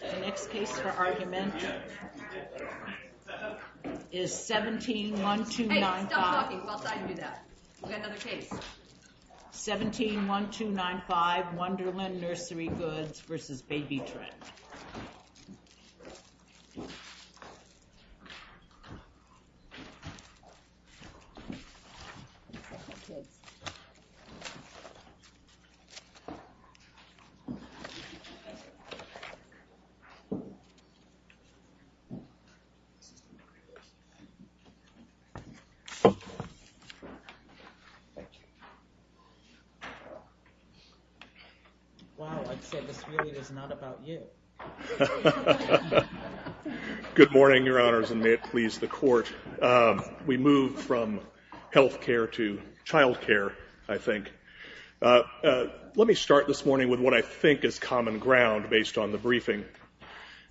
The next case for argument is 17-1295... Hey, stop talking while I do that. We've got another case. 17-1295 Wonderland Nurserygoods v. Baby Trend. Wow, I'd say this really is not about you. Good morning, Your Honors, and may it please the Court. We move from health care to child care, I think. Let me start this morning with what I think is common ground based on the briefing.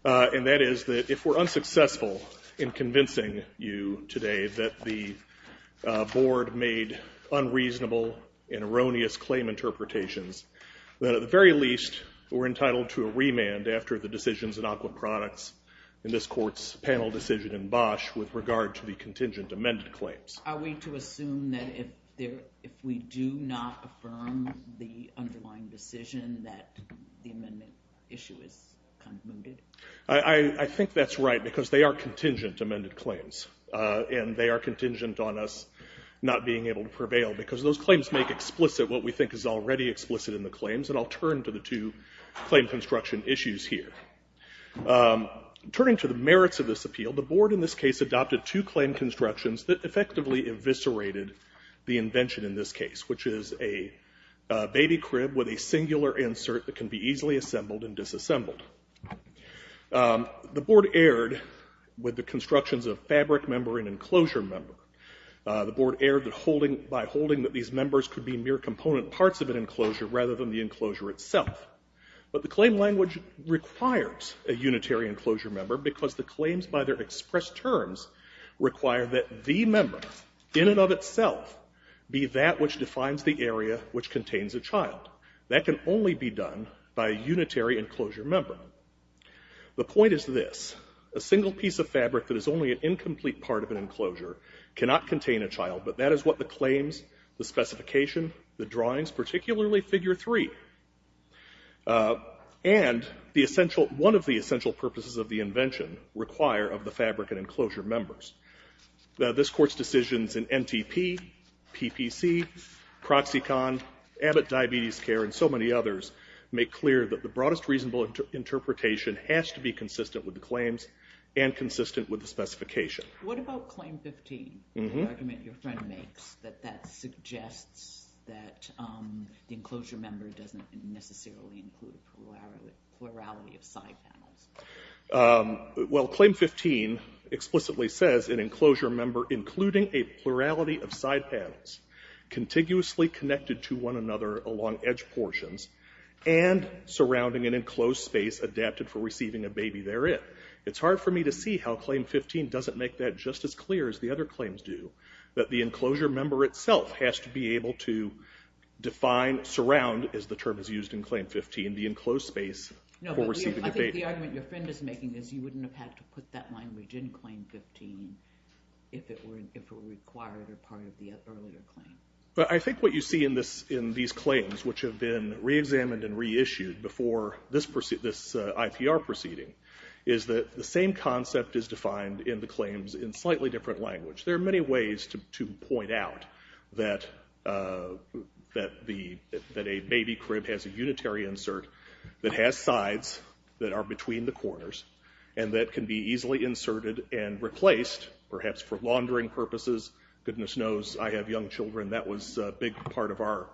And that is that if we're unsuccessful in convincing you today that the Board made unreasonable and erroneous claim interpretations, that at the very least we're entitled to a remand after the decisions in aquaproducts in this Court's panel decision in Bosch with regard to the contingent amended claims. Are we to assume that if we do not affirm the underlying decision that the amendment issue is condemned? I think that's right, because they are contingent amended claims. And they are contingent on us not being able to prevail, because those claims make explicit what we think is already explicit in the claims. And I'll turn to the two claim construction issues here. Turning to the merits of this appeal, the Board in this case adopted two claim constructions that effectively eviscerated the invention in this case, which is a baby crib with a singular insert that can be easily assembled and disassembled. The Board erred with the constructions of fabric member and enclosure member. The Board erred by holding that these members could be mere component parts of an enclosure rather than the enclosure itself. But the claim language requires a unitary enclosure member, because the claims by their expressed terms require that the member, in and of itself, be that which defines the area which contains a child. That can only be done by a unitary enclosure member. The point is this. A single piece of fabric that is only an incomplete part of an enclosure cannot contain a child, but that is what the claims, the specification, the drawings, particularly Figure 3, and the essential one of the essential purposes of the invention require of the fabric and enclosure members. This Court's decisions in NTP, PPC, Proxicon, Abbott Diabetes Care, and so many others, make clear that the broadest reasonable interpretation has to be consistent with the claims and consistent with the specification. What about Claim 15, the argument your friend makes that that suggests that the enclosure member doesn't necessarily include a plurality of side panels? Well, Claim 15 explicitly says an enclosure member including a plurality of side panels, contiguously connected to one another along edge portions, and surrounding an enclosed space adapted for receiving a baby therein. It's hard for me to see how Claim 15 doesn't make that just as clear as the other claims do, that the enclosure member itself has to be able to define, surround, as the term is used in Claim 15, the enclosed space for receiving a baby. I think the argument your friend is making is you wouldn't have had to put that line in Claim 15 if it were required or part of the earlier claim. I think what you see in these claims, which have been reexamined and reissued before this IPR proceeding, is that the same concept is defined in the claims in slightly different language. There are many ways to point out that a baby crib has a unitary insert that has sides that are between the corners and that can be easily inserted and replaced, perhaps for laundering purposes. Goodness knows I have young children. That was a big part of our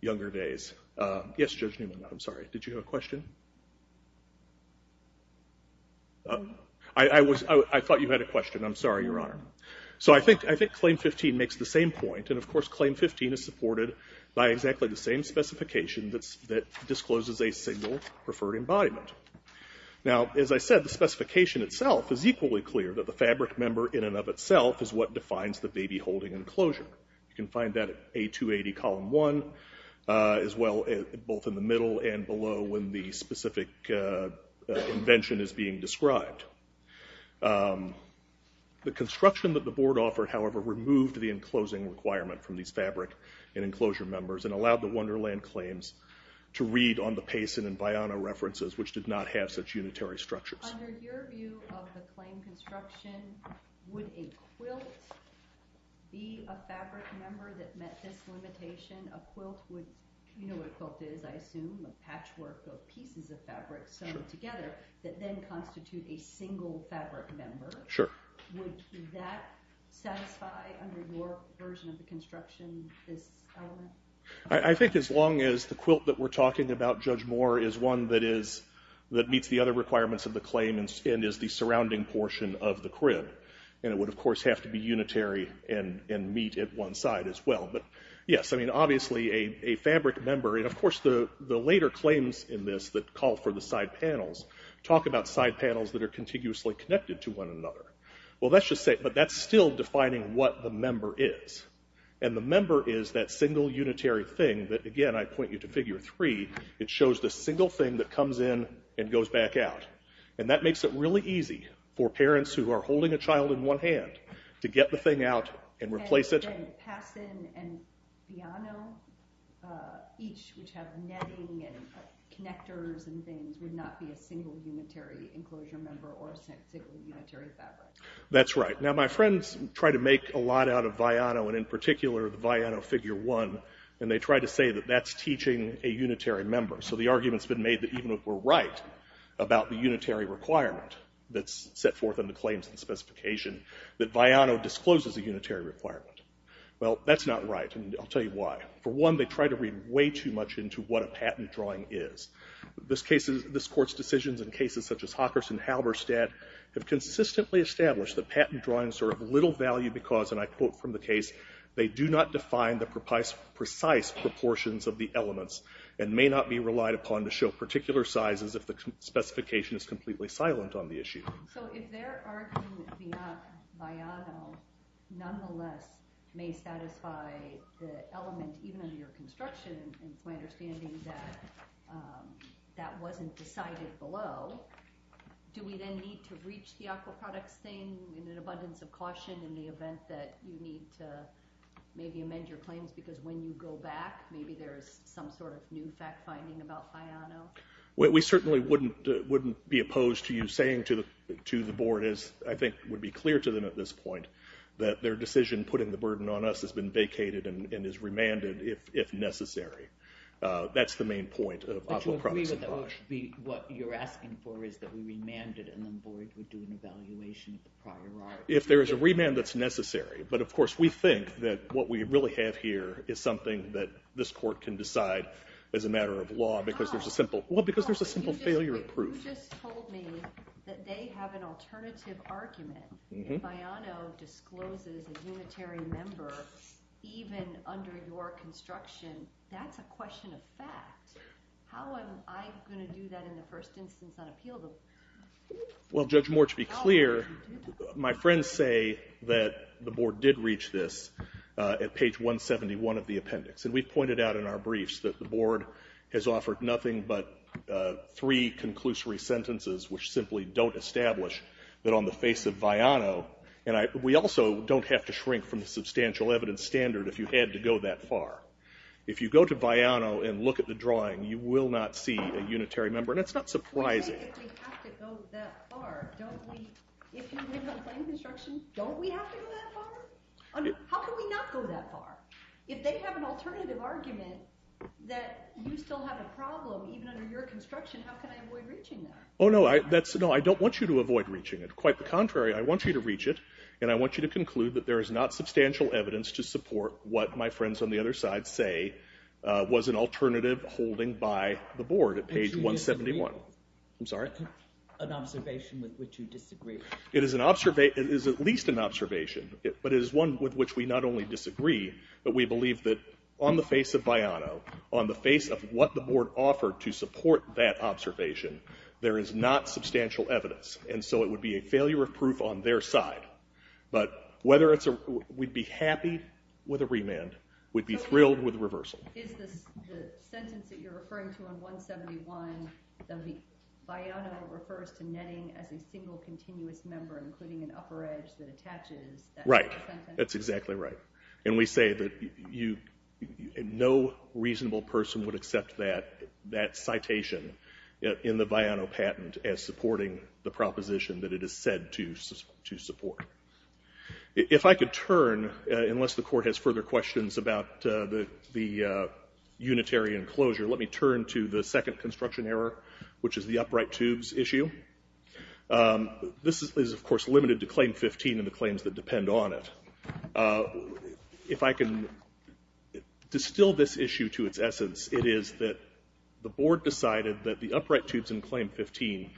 younger days. Yes, Judge Newman, I'm sorry. Did you have a question? I thought you had a question. I'm sorry, Your Honor. I think Claim 15 makes the same point. Of course, Claim 15 is supported by exactly the same specification that discloses a single preferred embodiment. As I said, the specification itself is equally clear, that the fabric member in and of itself is what defines the baby holding enclosure. You can find that at A280, Column 1, as well both in the middle and below when the specific invention is being described. The construction that the Board offered, however, removed the enclosing requirement from these fabric and enclosure members and allowed the Wonderland claims to read on the Payson and Vianna references, which did not have such unitary structures. Under your view of the claim construction, would a quilt be a fabric member that met this limitation? A quilt would, you know what a quilt is, I assume, a patchwork of pieces of fabric sewn together that then constitute a single fabric member. Would that satisfy, under your version of the construction, this element? I think as long as the quilt that we're talking about, Judge Moore, is one that meets the other requirements of the claim and is the surrounding portion of the crib. And it would, of course, have to be unitary and meet at one side as well. But yes, I mean, obviously a fabric member, and of course the later claims in this that call for the side panels, talk about side panels that are contiguously connected to one another. Well, let's just say, but that's still defining what the member is. And the member is that single unitary thing that, again, I point you to figure three, it shows the single thing that comes in and goes back out. And that makes it really easy for parents who are holding a child in one hand to get the thing out and replace it. And Payson and Vianna each, which have netting and connectors and things, would not be a single unitary enclosure member or a single unitary fabric. That's right. Now, my friends try to make a lot out of Vianna, and in particular the Vianna figure one, and they try to say that that's teaching a unitary member. So the argument's been made that even if we're right about the unitary requirement that's set forth in the claims and specification, that Vianna discloses a unitary requirement. Well, that's not right, and I'll tell you why. For one, they try to read way too much into what a patent drawing is. This court's decisions in cases such as Hawkers and Halberstadt have consistently established that patent drawings are of little value because, and I quote from the case, they do not define the precise proportions of the elements and may not be relied upon to show particular sizes if the specification is completely silent on the issue. So if they're arguing that Vianno nonetheless may satisfy the element, even under your construction, and it's my understanding that that wasn't decided below, do we then need to reach the aquaproducts thing in an abundance of caution in the event that you need to maybe amend your claims because when you go back, maybe there's some sort of new fact-finding about Vianno? We certainly wouldn't be opposed to you saying to the board, as I think would be clear to them at this point, that their decision putting the burden on us has been vacated and is remanded if necessary. That's the main point of aquaproducts. But you agree that what you're asking for is that we remand it and the board would do an evaluation of the prior art? If there is a remand that's necessary, but of course we think that what we really have here is something that this court can decide as a matter of law because there's a simple failure of proof. You just told me that they have an alternative argument. If Vianno discloses a unitary member, even under your construction, that's a question of fact. How am I going to do that in the first instance on appeal? Well, Judge Moore, to be clear, my friends say that the board did reach this at page 171 of the appendix. And we pointed out in our briefs that the board has offered nothing but three conclusory sentences, which simply don't establish that on the face of Vianno, and we also don't have to shrink from the substantial evidence standard if you had to go that far. If you go to Vianno and look at the drawing, you will not see a unitary member. And it's not surprising. If we have to go that far, don't we, if we have a plain construction, don't we have to go that far? How can we not go that far? If they have an alternative argument that you still have a problem, even under your construction, how can I avoid reaching that? Oh, no, I don't want you to avoid reaching it. Quite the contrary, I want you to reach it, and I want you to conclude that there is not substantial evidence to support what my friends on the other side say was an alternative holding by the board at page 171. An observation with which you disagree. It is at least an observation. But it is one with which we not only disagree, but we believe that on the face of Vianno, on the face of what the board offered to support that observation, there is not substantial evidence, and so it would be a failure of proof on their side. But whether it's a—we'd be happy with a remand. We'd be thrilled with a reversal. Is the sentence that you're referring to on 171, that Vianno refers to netting as a single continuous member, including an upper edge that attaches— Right. That's exactly right. And we say that no reasonable person would accept that citation in the Vianno patent as supporting the proposition that it is said to support. If I could turn, unless the Court has further questions about the unitary enclosure, let me turn to the second construction error, which is the upright tubes issue. This is, of course, limited to Claim 15 and the claims that depend on it. If I can distill this issue to its essence, it is that the board decided that the upright tubes in Claim 15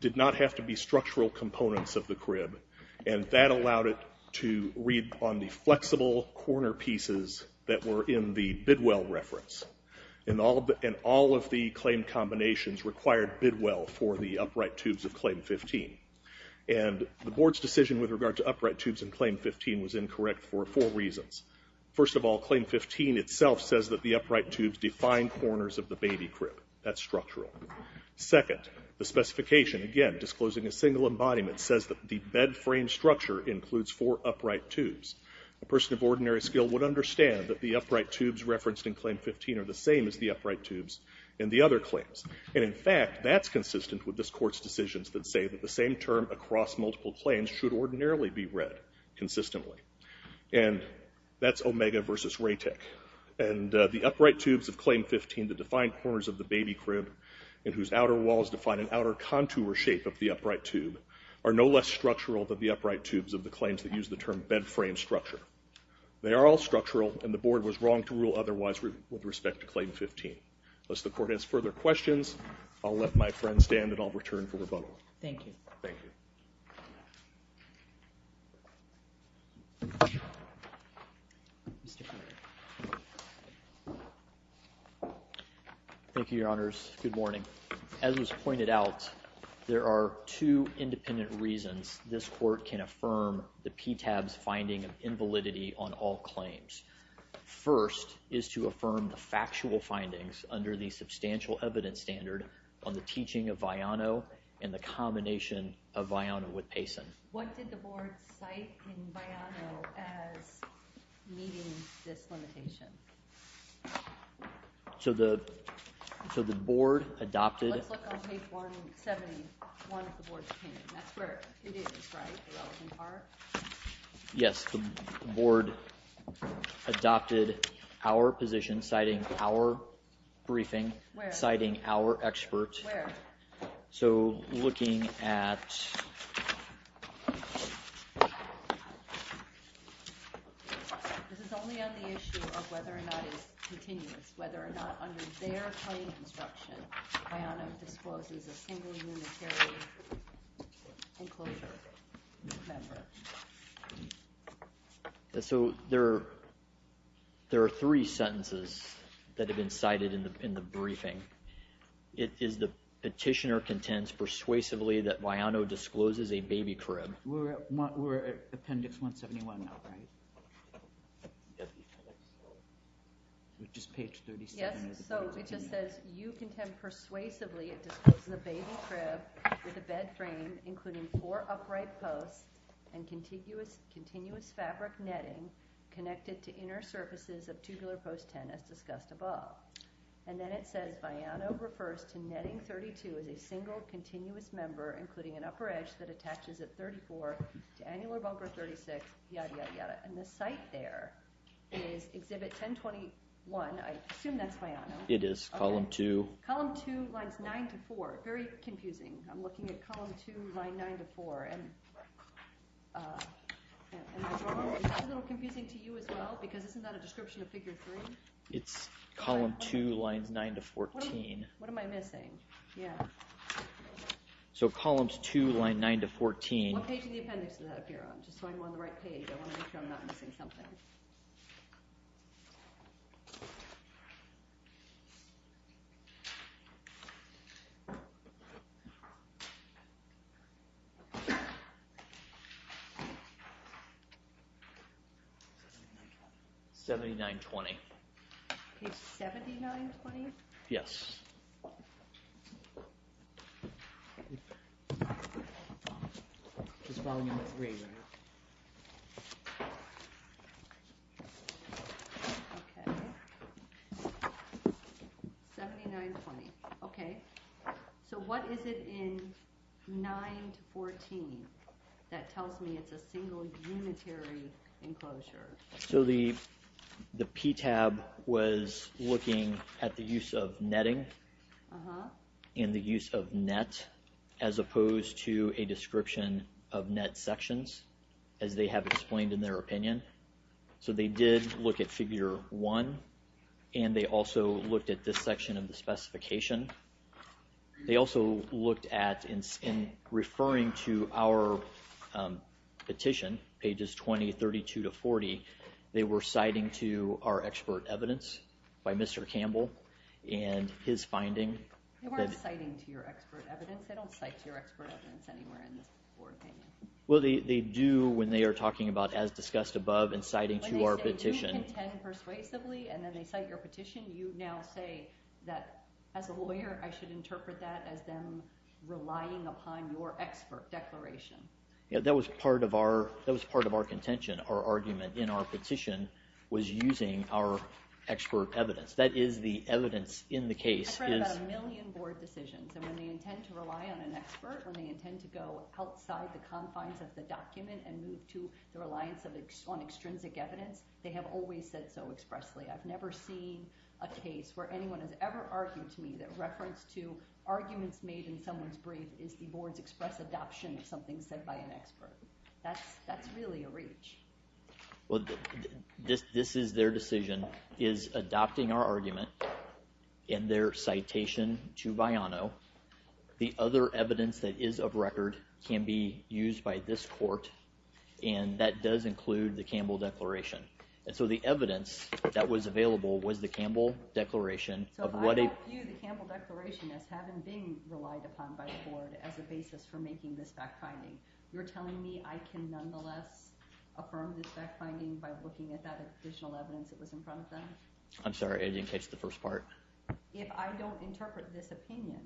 did not have to be structural components of the crib, and that allowed it to read on the flexible corner pieces that were in the Bidwell reference. And all of the claim combinations required Bidwell for the upright tubes of Claim 15. And the board's decision with regard to upright tubes in Claim 15 was incorrect for four reasons. First of all, Claim 15 itself says that the upright tubes define corners of the baby crib. That's structural. Second, the specification, again disclosing a single embodiment, says that the bed frame structure includes four upright tubes. A person of ordinary skill would understand that the upright tubes referenced in Claim 15 are the same as the upright tubes in the other claims. And, in fact, that's consistent with this Court's decisions that say that the same term across multiple claims should ordinarily be read consistently. And that's Omega v. Ratick. And the upright tubes of Claim 15 that define corners of the baby crib and whose outer walls define an outer contour shape of the upright tube are no less structural than the upright tubes of the claims that use the term bed frame structure. They are all structural, and the board was wrong to rule otherwise with respect to Claim 15. Unless the Court has further questions, I'll let my friend stand, and I'll return for rebuttal. Thank you. Thank you. Thank you. Thank you, Your Honors. Good morning. As was pointed out, there are two independent reasons this Court can affirm the PTAB's finding of invalidity on all claims. First is to affirm the factual findings under the substantial evidence standard on the teaching of Viano and the combination of Viano with Payson. What did the board cite in Viano as meeting this limitation? So the board adopted— Let's look on page 171 of the board's opinion. That's where it is, right, the relevant part? Yes, the board adopted our position citing our briefing— Where? Citing our expert. Where? So looking at— This is only on the issue of whether or not it's continuous, whether or not under their claim construction, Viano discloses a single unitary enclosure member. So there are three sentences that have been cited in the briefing. It is the petitioner contends persuasively that Viano discloses a baby crib. We're at appendix 171 now, right? Yes. Which is page 37 of the board's opinion. Yes, so it just says, you contend persuasively it discloses a baby crib with a bed frame, including four upright posts and continuous fabric netting connected to inner surfaces of tubular post 10 as discussed above. And then it says, Viano refers to netting 32 as a single continuous member, including an upper edge that attaches at 34 to annular bumper 36, yada, yada, yada. And the site there is exhibit 1021. I assume that's Viano. It is. Column 2. Column 2 lines 9 to 4. Very confusing. I'm looking at column 2 line 9 to 4. Am I wrong? Is that a little confusing to you as well? Because isn't that a description of figure 3? It's column 2 lines 9 to 14. What am I missing? Yeah. So columns 2 line 9 to 14. What page of the appendix does that appear on? Just so I'm on the right page. I want to make sure I'm not missing something. 7920. 7920? Yes. Just following the grade on it. Okay. 7920. Okay. So what is it in 9 to 14 that tells me it's a single unitary enclosure? So the PTAB was looking at the use of netting and the use of net, as opposed to a description of net sections, as they have explained in their opinion. So they did look at figure 1, and they also looked at this section of the specification. They also looked at, in referring to our petition, pages 20, 32 to 40, they were citing to our expert evidence by Mr. Campbell and his finding. They weren't citing to your expert evidence. They don't cite to your expert evidence anywhere in this board opinion. Well, they do when they are talking about as discussed above and citing to our petition. When you contend persuasively and then they cite your petition, you now say that, as a lawyer, I should interpret that as them relying upon your expert declaration. Yeah, that was part of our contention. Our argument in our petition was using our expert evidence. That is the evidence in the case. I've read about a million board decisions, and when they intend to rely on an expert, when they intend to go outside the confines of the document and move to the reliance on extrinsic evidence, they have always said so expressly. I've never seen a case where anyone has ever argued to me that reference to arguments made in someone's brief is the board's express adoption of something said by an expert. That's really a reach. Well, this is their decision, is adopting our argument in their citation to Viano. The other evidence that is of record can be used by this court, and that does include the Campbell Declaration. So the evidence that was available was the Campbell Declaration. So I don't view the Campbell Declaration as having been relied upon by the board as a basis for making this fact-finding. You're telling me I can nonetheless affirm this fact-finding by looking at that additional evidence that was in front of them? I'm sorry, I didn't catch the first part. If I don't interpret this opinion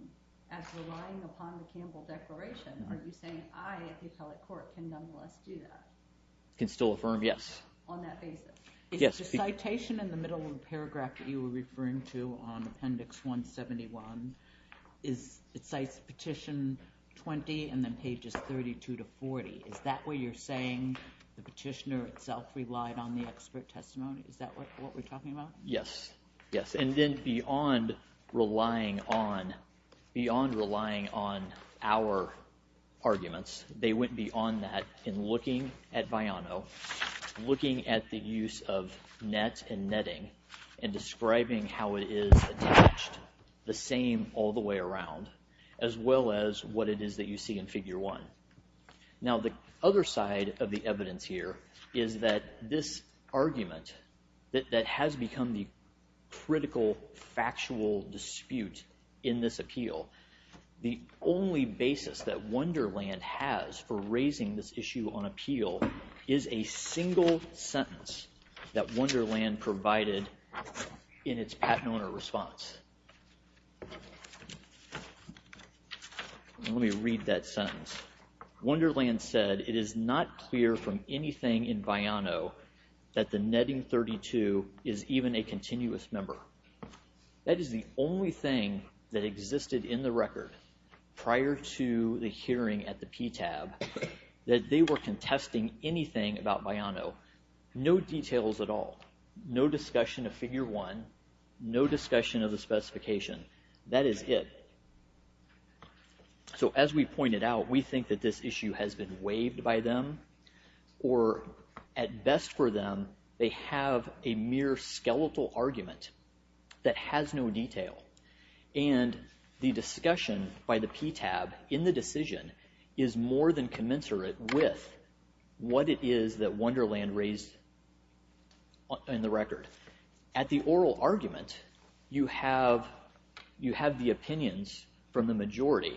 as relying upon the Campbell Declaration, are you saying I, at the appellate court, can nonetheless do that? Can still affirm, yes. On that basis? Yes. Is the citation in the middle of the paragraph that you were referring to on Appendix 171, it cites Petition 20 and then pages 32 to 40. Is that where you're saying the petitioner itself relied on the expert testimony? Is that what we're talking about? Yes. Yes, and then beyond relying on our arguments, they went beyond that in looking at Viano, looking at the use of net and netting, and describing how it is attached, the same all the way around, as well as what it is that you see in Figure 1. Now the other side of the evidence here is that this argument that has become the critical factual dispute in this appeal, the only basis that Wonderland has for raising this issue on appeal is a single sentence that Wonderland provided in its patent owner response. Let me read that sentence. Wonderland said, It is not clear from anything in Viano that the netting 32 is even a continuous member. That is the only thing that existed in the record prior to the hearing at the PTAB that they were contesting anything about Viano. No details at all. No discussion of Figure 1. No discussion of the specification. That is it. So as we pointed out, we think that this issue has been waived by them, or at best for them, they have a mere skeletal argument that has no detail, and the discussion by the PTAB in the decision is more than commensurate with what it is that Wonderland raised in the record. At the oral argument, you have the opinions from the majority.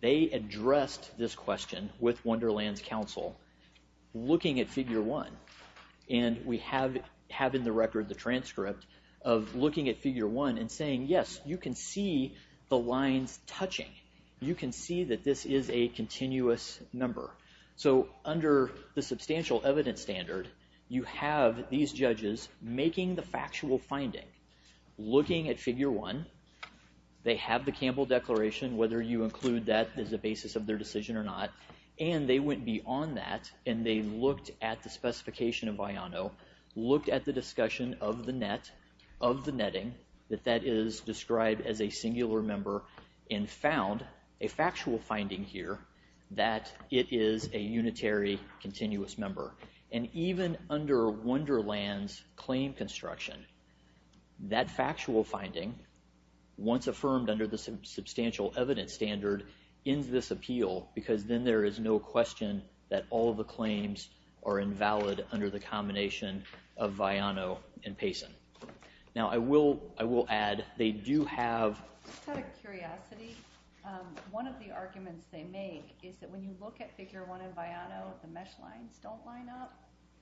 They addressed this question with Wonderland's counsel looking at Figure 1, and we have in the record the transcript of looking at Figure 1 and saying, Yes, you can see the lines touching. You can see that this is a continuous number. So under the substantial evidence standard, you have these judges making the factual finding, looking at Figure 1. They have the Campbell Declaration, whether you include that as a basis of their decision or not, and they went beyond that, and they looked at the specification of Viano, looked at the discussion of the net, of the netting, that that is described as a singular member, and found a factual finding here that it is a unitary continuous member. And even under Wonderland's claim construction, that factual finding, once affirmed under the substantial evidence standard, ends this appeal because then there is no question that all of the claims are invalid under the combination of Viano and Payson. Now I will add they do have... Just out of curiosity, one of the arguments they make is that when you look at Figure 1 and Viano, the mesh lines don't line up.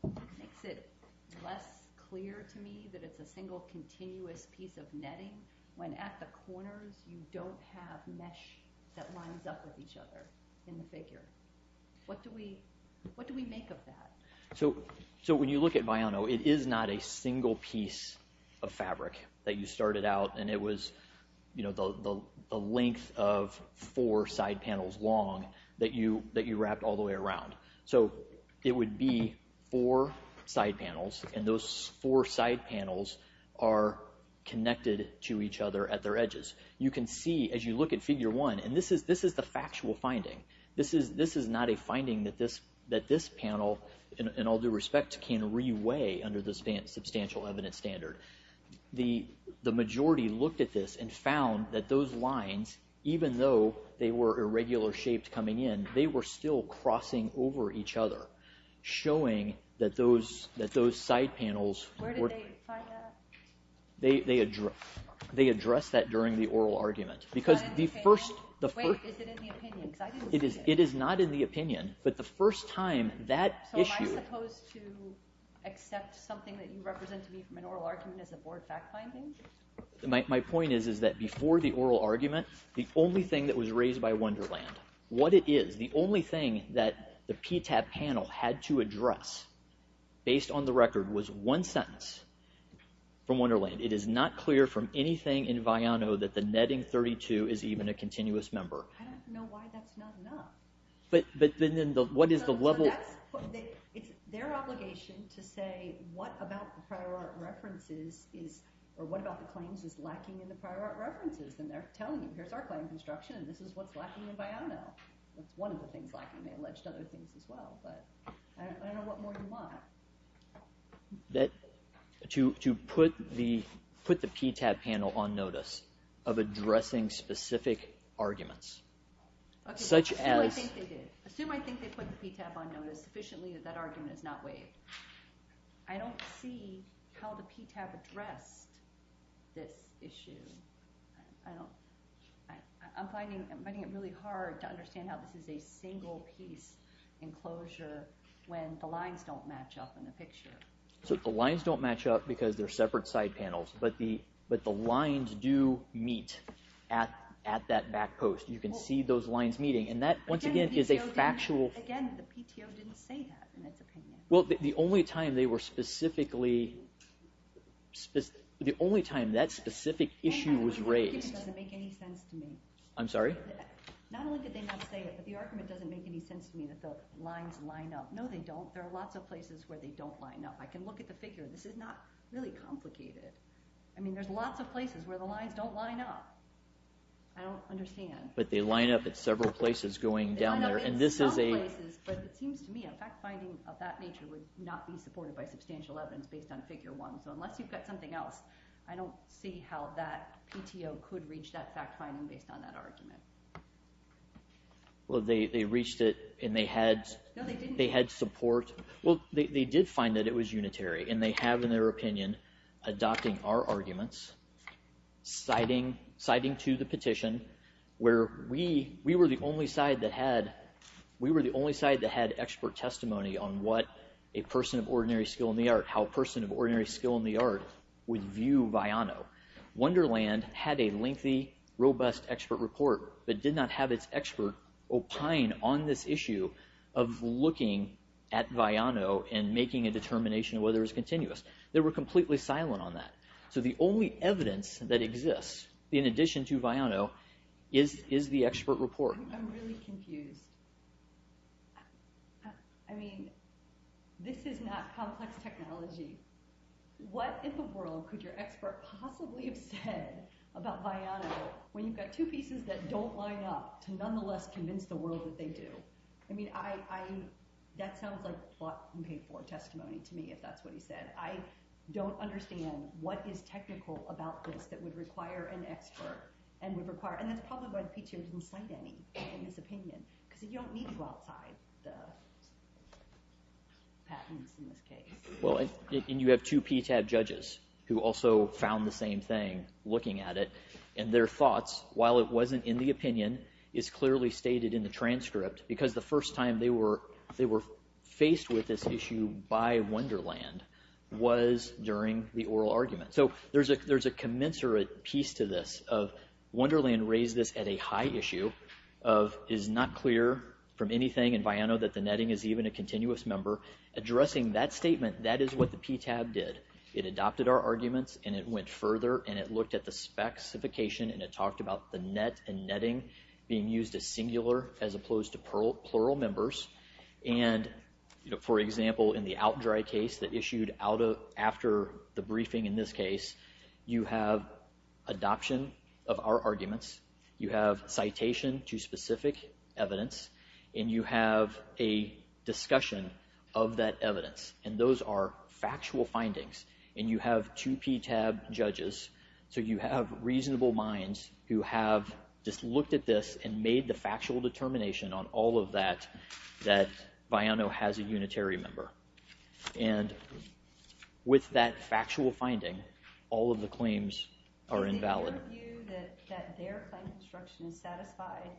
It makes it less clear to me that it's a single continuous piece of netting when at the corners you don't have mesh that lines up with each other in the figure. What do we make of that? So when you look at Viano, it is not a single piece of fabric that you started out, and it was the length of four side panels long that you wrapped all the way around. So it would be four side panels, and those four side panels are connected to each other at their edges. You can see as you look at Figure 1, and this is the factual finding. This is not a finding that this panel, in all due respect, can re-weigh under the substantial evidence standard. The majority looked at this and found that those lines, even though they were irregular-shaped coming in, they were still crossing over each other, showing that those side panels... Where did they find that? They addressed that during the oral argument. Wait, is it in the opinion? It is not in the opinion, but the first time that issue... So am I supposed to accept something that you represent to me from an oral argument as a board fact-finding? My point is that before the oral argument, the only thing that was raised by Wonderland, what it is, the only thing that the PTAP panel had to address, based on the record, was one sentence from Wonderland. It is not clear from anything in Viano that the netting 32 is even a continuous member. I don't know why that's not enough. But then what is the level... It's their obligation to say what about the prior art references, or what about the claims is lacking in the prior art references, and they're telling you, here's our claim construction, and this is what's lacking in Viano. That's one of the things lacking. They alleged other things as well, but I don't know what more you want. To put the PTAP panel on notice of addressing specific arguments, such as... Assume I think they did. Assume I think they put the PTAP on notice sufficiently that that argument is not waived. I don't see how the PTAP addressed this issue. I'm finding it really hard to understand how this is a single piece enclosure when the lines don't match up in the picture. The lines don't match up because they're separate side panels, but the lines do meet at that back post. You can see those lines meeting, and that, once again, is a factual... Again, the PTO didn't say that, in its opinion. Well, the only time they were specifically... The only time that specific issue was raised... It doesn't make any sense to me. I'm sorry? Not only did they not say it, but the argument doesn't make any sense to me that the lines line up. No, they don't. There are lots of places where they don't line up. I can look at the figure. This is not really complicated. I mean, there's lots of places where the lines don't line up. I don't understand. But they line up at several places going down there, and this is a... They line up at some places, but it seems to me a fact-finding of that nature would not be supported by substantial evidence based on Figure 1. So unless you've got something else, I don't see how that PTO could reach that fact-finding based on that argument. Well, they reached it, and they had... No, they didn't. They had support. Well, they did find that it was unitary, and they have, in their opinion, adopting our arguments, citing to the petition where we were the only side that had... We were the only side that had expert testimony on what a person of ordinary skill in the art, how a person of ordinary skill in the art would view Viano. Wonderland had a lengthy, robust expert report, but did not have its expert opine on this issue of looking at Viano and making a determination whether it was continuous. They were completely silent on that. So the only evidence that exists, in addition to Viano, is the expert report. I'm really confused. I mean, this is not complex technology. What in the world could your expert possibly have said about Viano when you've got two pieces that don't line up to nonetheless convince the world that they do? I mean, that sounds like bought-and-paid-for testimony to me, if that's what he said. I don't understand what is technical about this that would require an expert, and would require... And that's probably why the PTO didn't cite any in his opinion, because you don't need to outside the patents in this case. Well, and you have two PTAB judges who also found the same thing looking at it, and their thoughts, while it wasn't in the opinion, is clearly stated in the transcript, because the first time they were faced with this issue by Wonderland was during the oral argument. So there's a commensurate piece to this of Wonderland raised this at a high issue of is not clear from anything in Viano that the netting is even a continuous member. Addressing that statement, that is what the PTAB did. It adopted our arguments, and it went further, and it looked at the specification, and it talked about the net and netting being used as singular as opposed to plural members. And, for example, in the out-dry case that issued after the briefing in this case, you have adoption of our arguments. You have citation to specific evidence, and you have a discussion of that evidence, and those are factual findings. And you have two PTAB judges, so you have reasonable minds who have just looked at this and made the factual determination on all of that that Viano has a unitary member. And with that factual finding, all of the claims are invalid. Is it your view that their claim construction is satisfied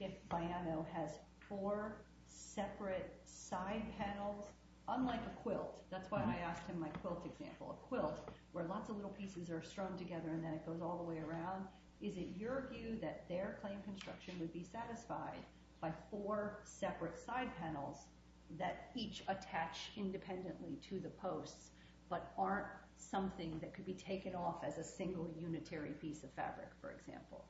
if Viano has four separate side panels, unlike a quilt? That's why I asked him my quilt example, a quilt where lots of little pieces are strewn together and then it goes all the way around. Is it your view that their claim construction would be satisfied by four separate side panels that each attach independently to the posts but aren't something that could be taken off as a single unitary piece of fabric, for example?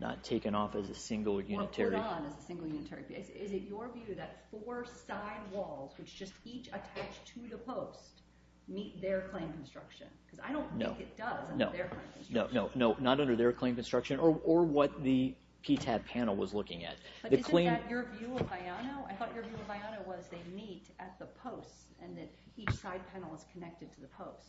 Not taken off as a single unitary... Or put on as a single unitary piece. Is it your view that four side walls, which just each attach to the post, meet their claim construction? Because I don't think it does under their claim construction. No, not under their claim construction or what the PTAB panel was looking at. But isn't that your view of Viano? I thought your view of Viano was they meet at the posts and that each side panel is connected to the post.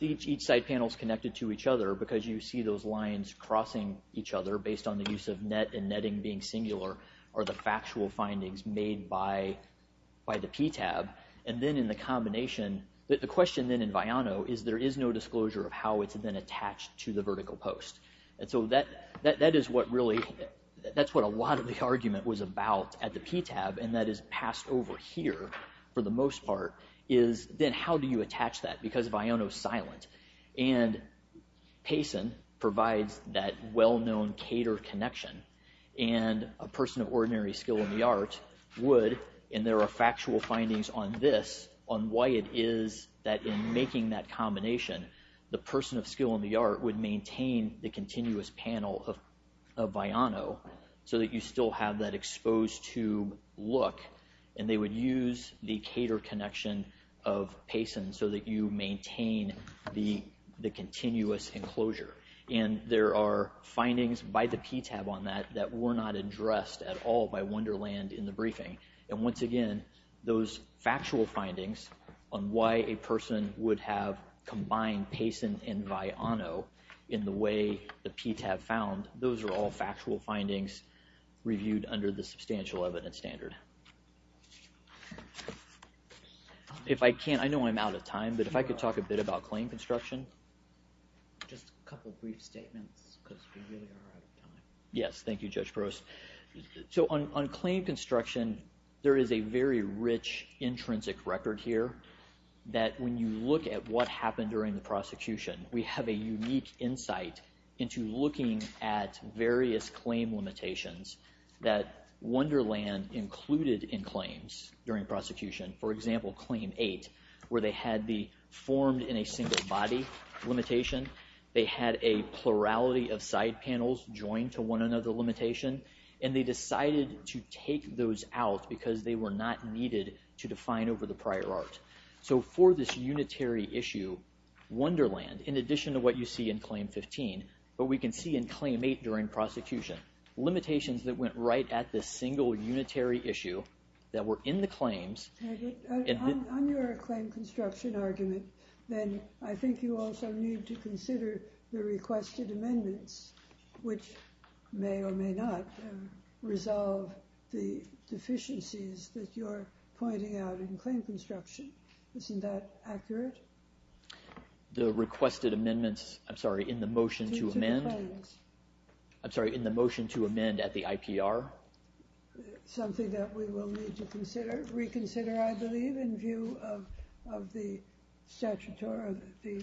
Each side panel is connected to each other because you see those lines crossing each other based on the use of net and netting being singular are the factual findings made by the PTAB. And then in the combination... The question then in Viano is there is no disclosure of how it's been attached to the vertical post. And so that is what really... That's what a lot of the argument was about at the PTAB and that is passed over here for the most part is then how do you attach that? Because Viano is silent. And Payson provides that well-known cater connection. And a person of ordinary skill in the art would... And there are factual findings on this, on why it is that in making that combination, the person of skill in the art would maintain the continuous panel of Viano so that you still have that exposed to look. And they would use the cater connection of Payson so that you maintain the continuous enclosure. And there are findings by the PTAB on that that were not addressed at all by Wonderland in the briefing. And once again, those factual findings on why a person would have combined Payson and Viano in the way the PTAB found, those are all factual findings reviewed under the substantial evidence standard. If I can, I know I'm out of time, but if I could talk a bit about claim construction. Just a couple of brief statements because we really are out of time. Yes, thank you, Judge Gross. So on claim construction, there is a very rich, intrinsic record here that when you look at what happened during the prosecution, we have a unique insight into looking at various claim limitations that Wonderland included in claims during prosecution. For example, Claim 8, where they had the formed-in-a-single-body limitation, they had a plurality of side panels joined to one another limitation, and they decided to take those out because they were not needed to define over the prior art. So for this unitary issue, Wonderland, in addition to what you see in Claim 15, what we can see in Claim 8 during prosecution, limitations that went right at this single unitary issue that were in the claims... On your claim construction argument, then I think you also need to consider the requested amendments, which may or may not resolve the deficiencies that you're pointing out in claim construction. Isn't that accurate? The requested amendments... I'm sorry, in the motion to amend? I'm sorry, in the motion to amend at the IPR? Something that we will need to reconsider, I believe, in view of the statutory... the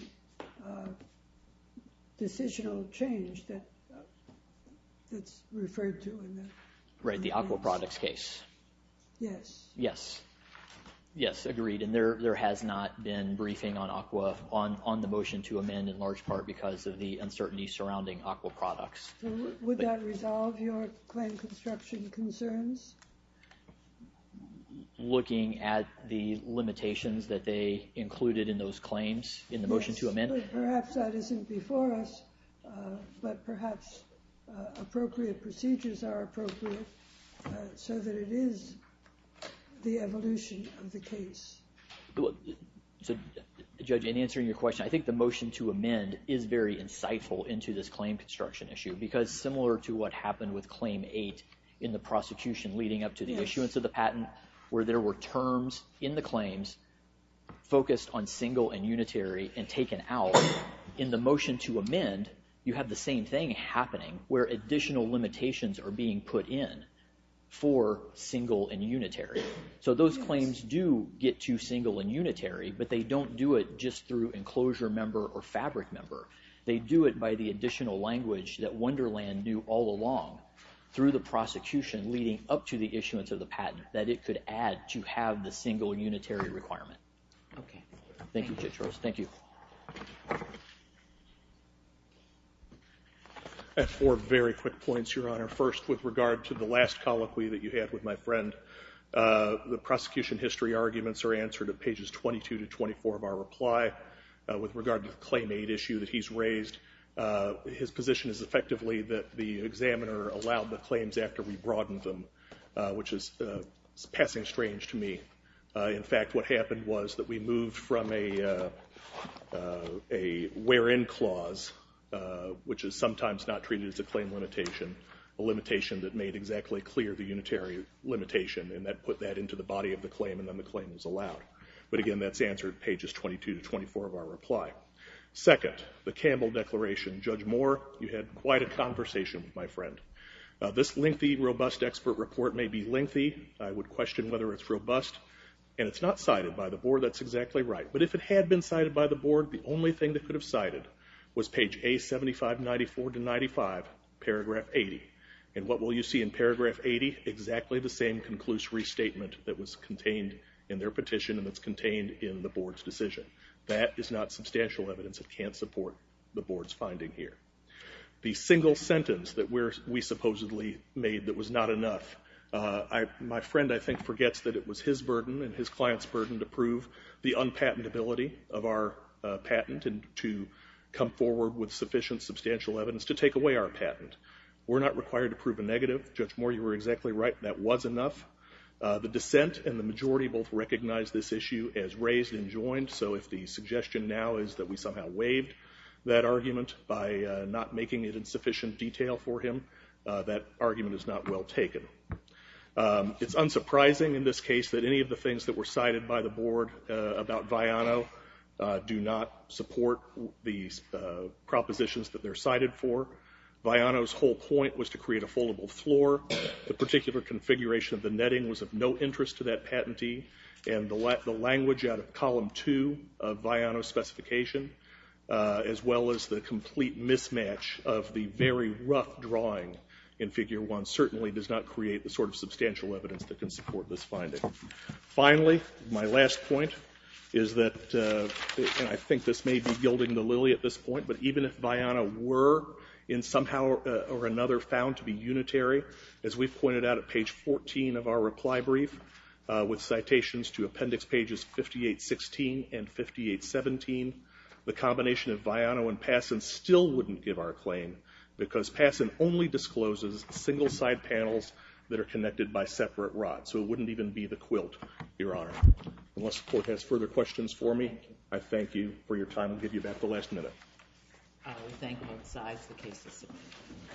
decisional change that's referred to in the amendments. Right, the aquaproducts case. Yes. Yes. Yes, agreed. And there has not been briefing on the motion to amend in large part because of the uncertainty surrounding aquaproducts. Would that resolve your claim construction concerns? Looking at the limitations that they included in those claims in the motion to amend? Yes, but perhaps that isn't before us, but perhaps appropriate procedures are appropriate so that it is the evolution of the case. So, Judge, in answering your question, I think the motion to amend is very insightful into this claim construction issue because, similar to what happened with Claim 8 in the prosecution leading up to the issuance of the patent, where there were terms in the claims focused on single and unitary and taken out, in the motion to amend, you have the same thing happening where additional limitations are being put in for single and unitary. So those claims do get to single and unitary, but they don't do it just through enclosure member or fabric member. They do it by the additional language that Wonderland knew all along through the prosecution leading up to the issuance of the patent that it could add to have the single unitary requirement. Okay. Thank you, Judge Rose. Thank you. I have four very quick points, Your Honor. First, with regard to the last colloquy that you had with my friend, the prosecution history arguments are answered at pages 22 to 24 of our reply. With regard to the Claim 8 issue that he's raised, his position is, effectively, that the examiner allowed the claims after we broadened them, which is passing strange to me. In fact, what happened was that we moved from a where-in clause, which is sometimes not treated as a claim limitation, a limitation that made exactly clear the unitary limitation, and that put that into the body of the claim, and then the claim was allowed. But again, that's answered pages 22 to 24 of our reply. Second, the Campbell Declaration. Judge Moore, you had quite a conversation with my friend. This lengthy, robust expert report may be lengthy. I would question whether it's robust, and it's not cited by the board. That's exactly right. But if it had been cited by the board, the only thing that could have cited was page A7594-95, paragraph 80. And what will you see in paragraph 80? Exactly the same conclusive restatement that was contained in their petition and that's contained in the board's decision. That is not substantial evidence. It can't support the board's finding here. The single sentence that we supposedly made that was not enough, my friend, I think, forgets that it was his burden and his client's burden to prove the unpatentability of our patent and to come forward with sufficient, substantial evidence to take away our patent. We're not required to prove a negative. Judge Moore, you were exactly right. That was enough. The dissent and the majority both recognize this issue as raised and joined, so if the suggestion now is that we somehow waived that argument by not making it in sufficient detail for him, that argument is not well taken. It's unsurprising in this case that any of the things that were cited by the board about Viano do not support the propositions that they're cited for. Viano's whole point was to create a foldable floor. The particular configuration of the netting was of no interest to that patentee, and the language out of column 2 of Viano's specification, as well as the complete mismatch of the very rough drawing in figure 1 certainly does not create the sort of substantial evidence that can support this finding. Finally, my last point is that, and I think this may be gilding the lily at this point, but even if Viano were in somehow or another found to be unitary, as we've pointed out at page 14 of our reply brief, with citations to appendix pages 5816 and 5817, the combination of Viano and Passon still wouldn't give our claim because Passon only discloses single-side panels that are connected by separate rods, so it wouldn't even be the quilt, Your Honor. Unless the court has further questions for me, I thank you for your time. I'll give you back the last minute. We thank you both sides. The case is submitted.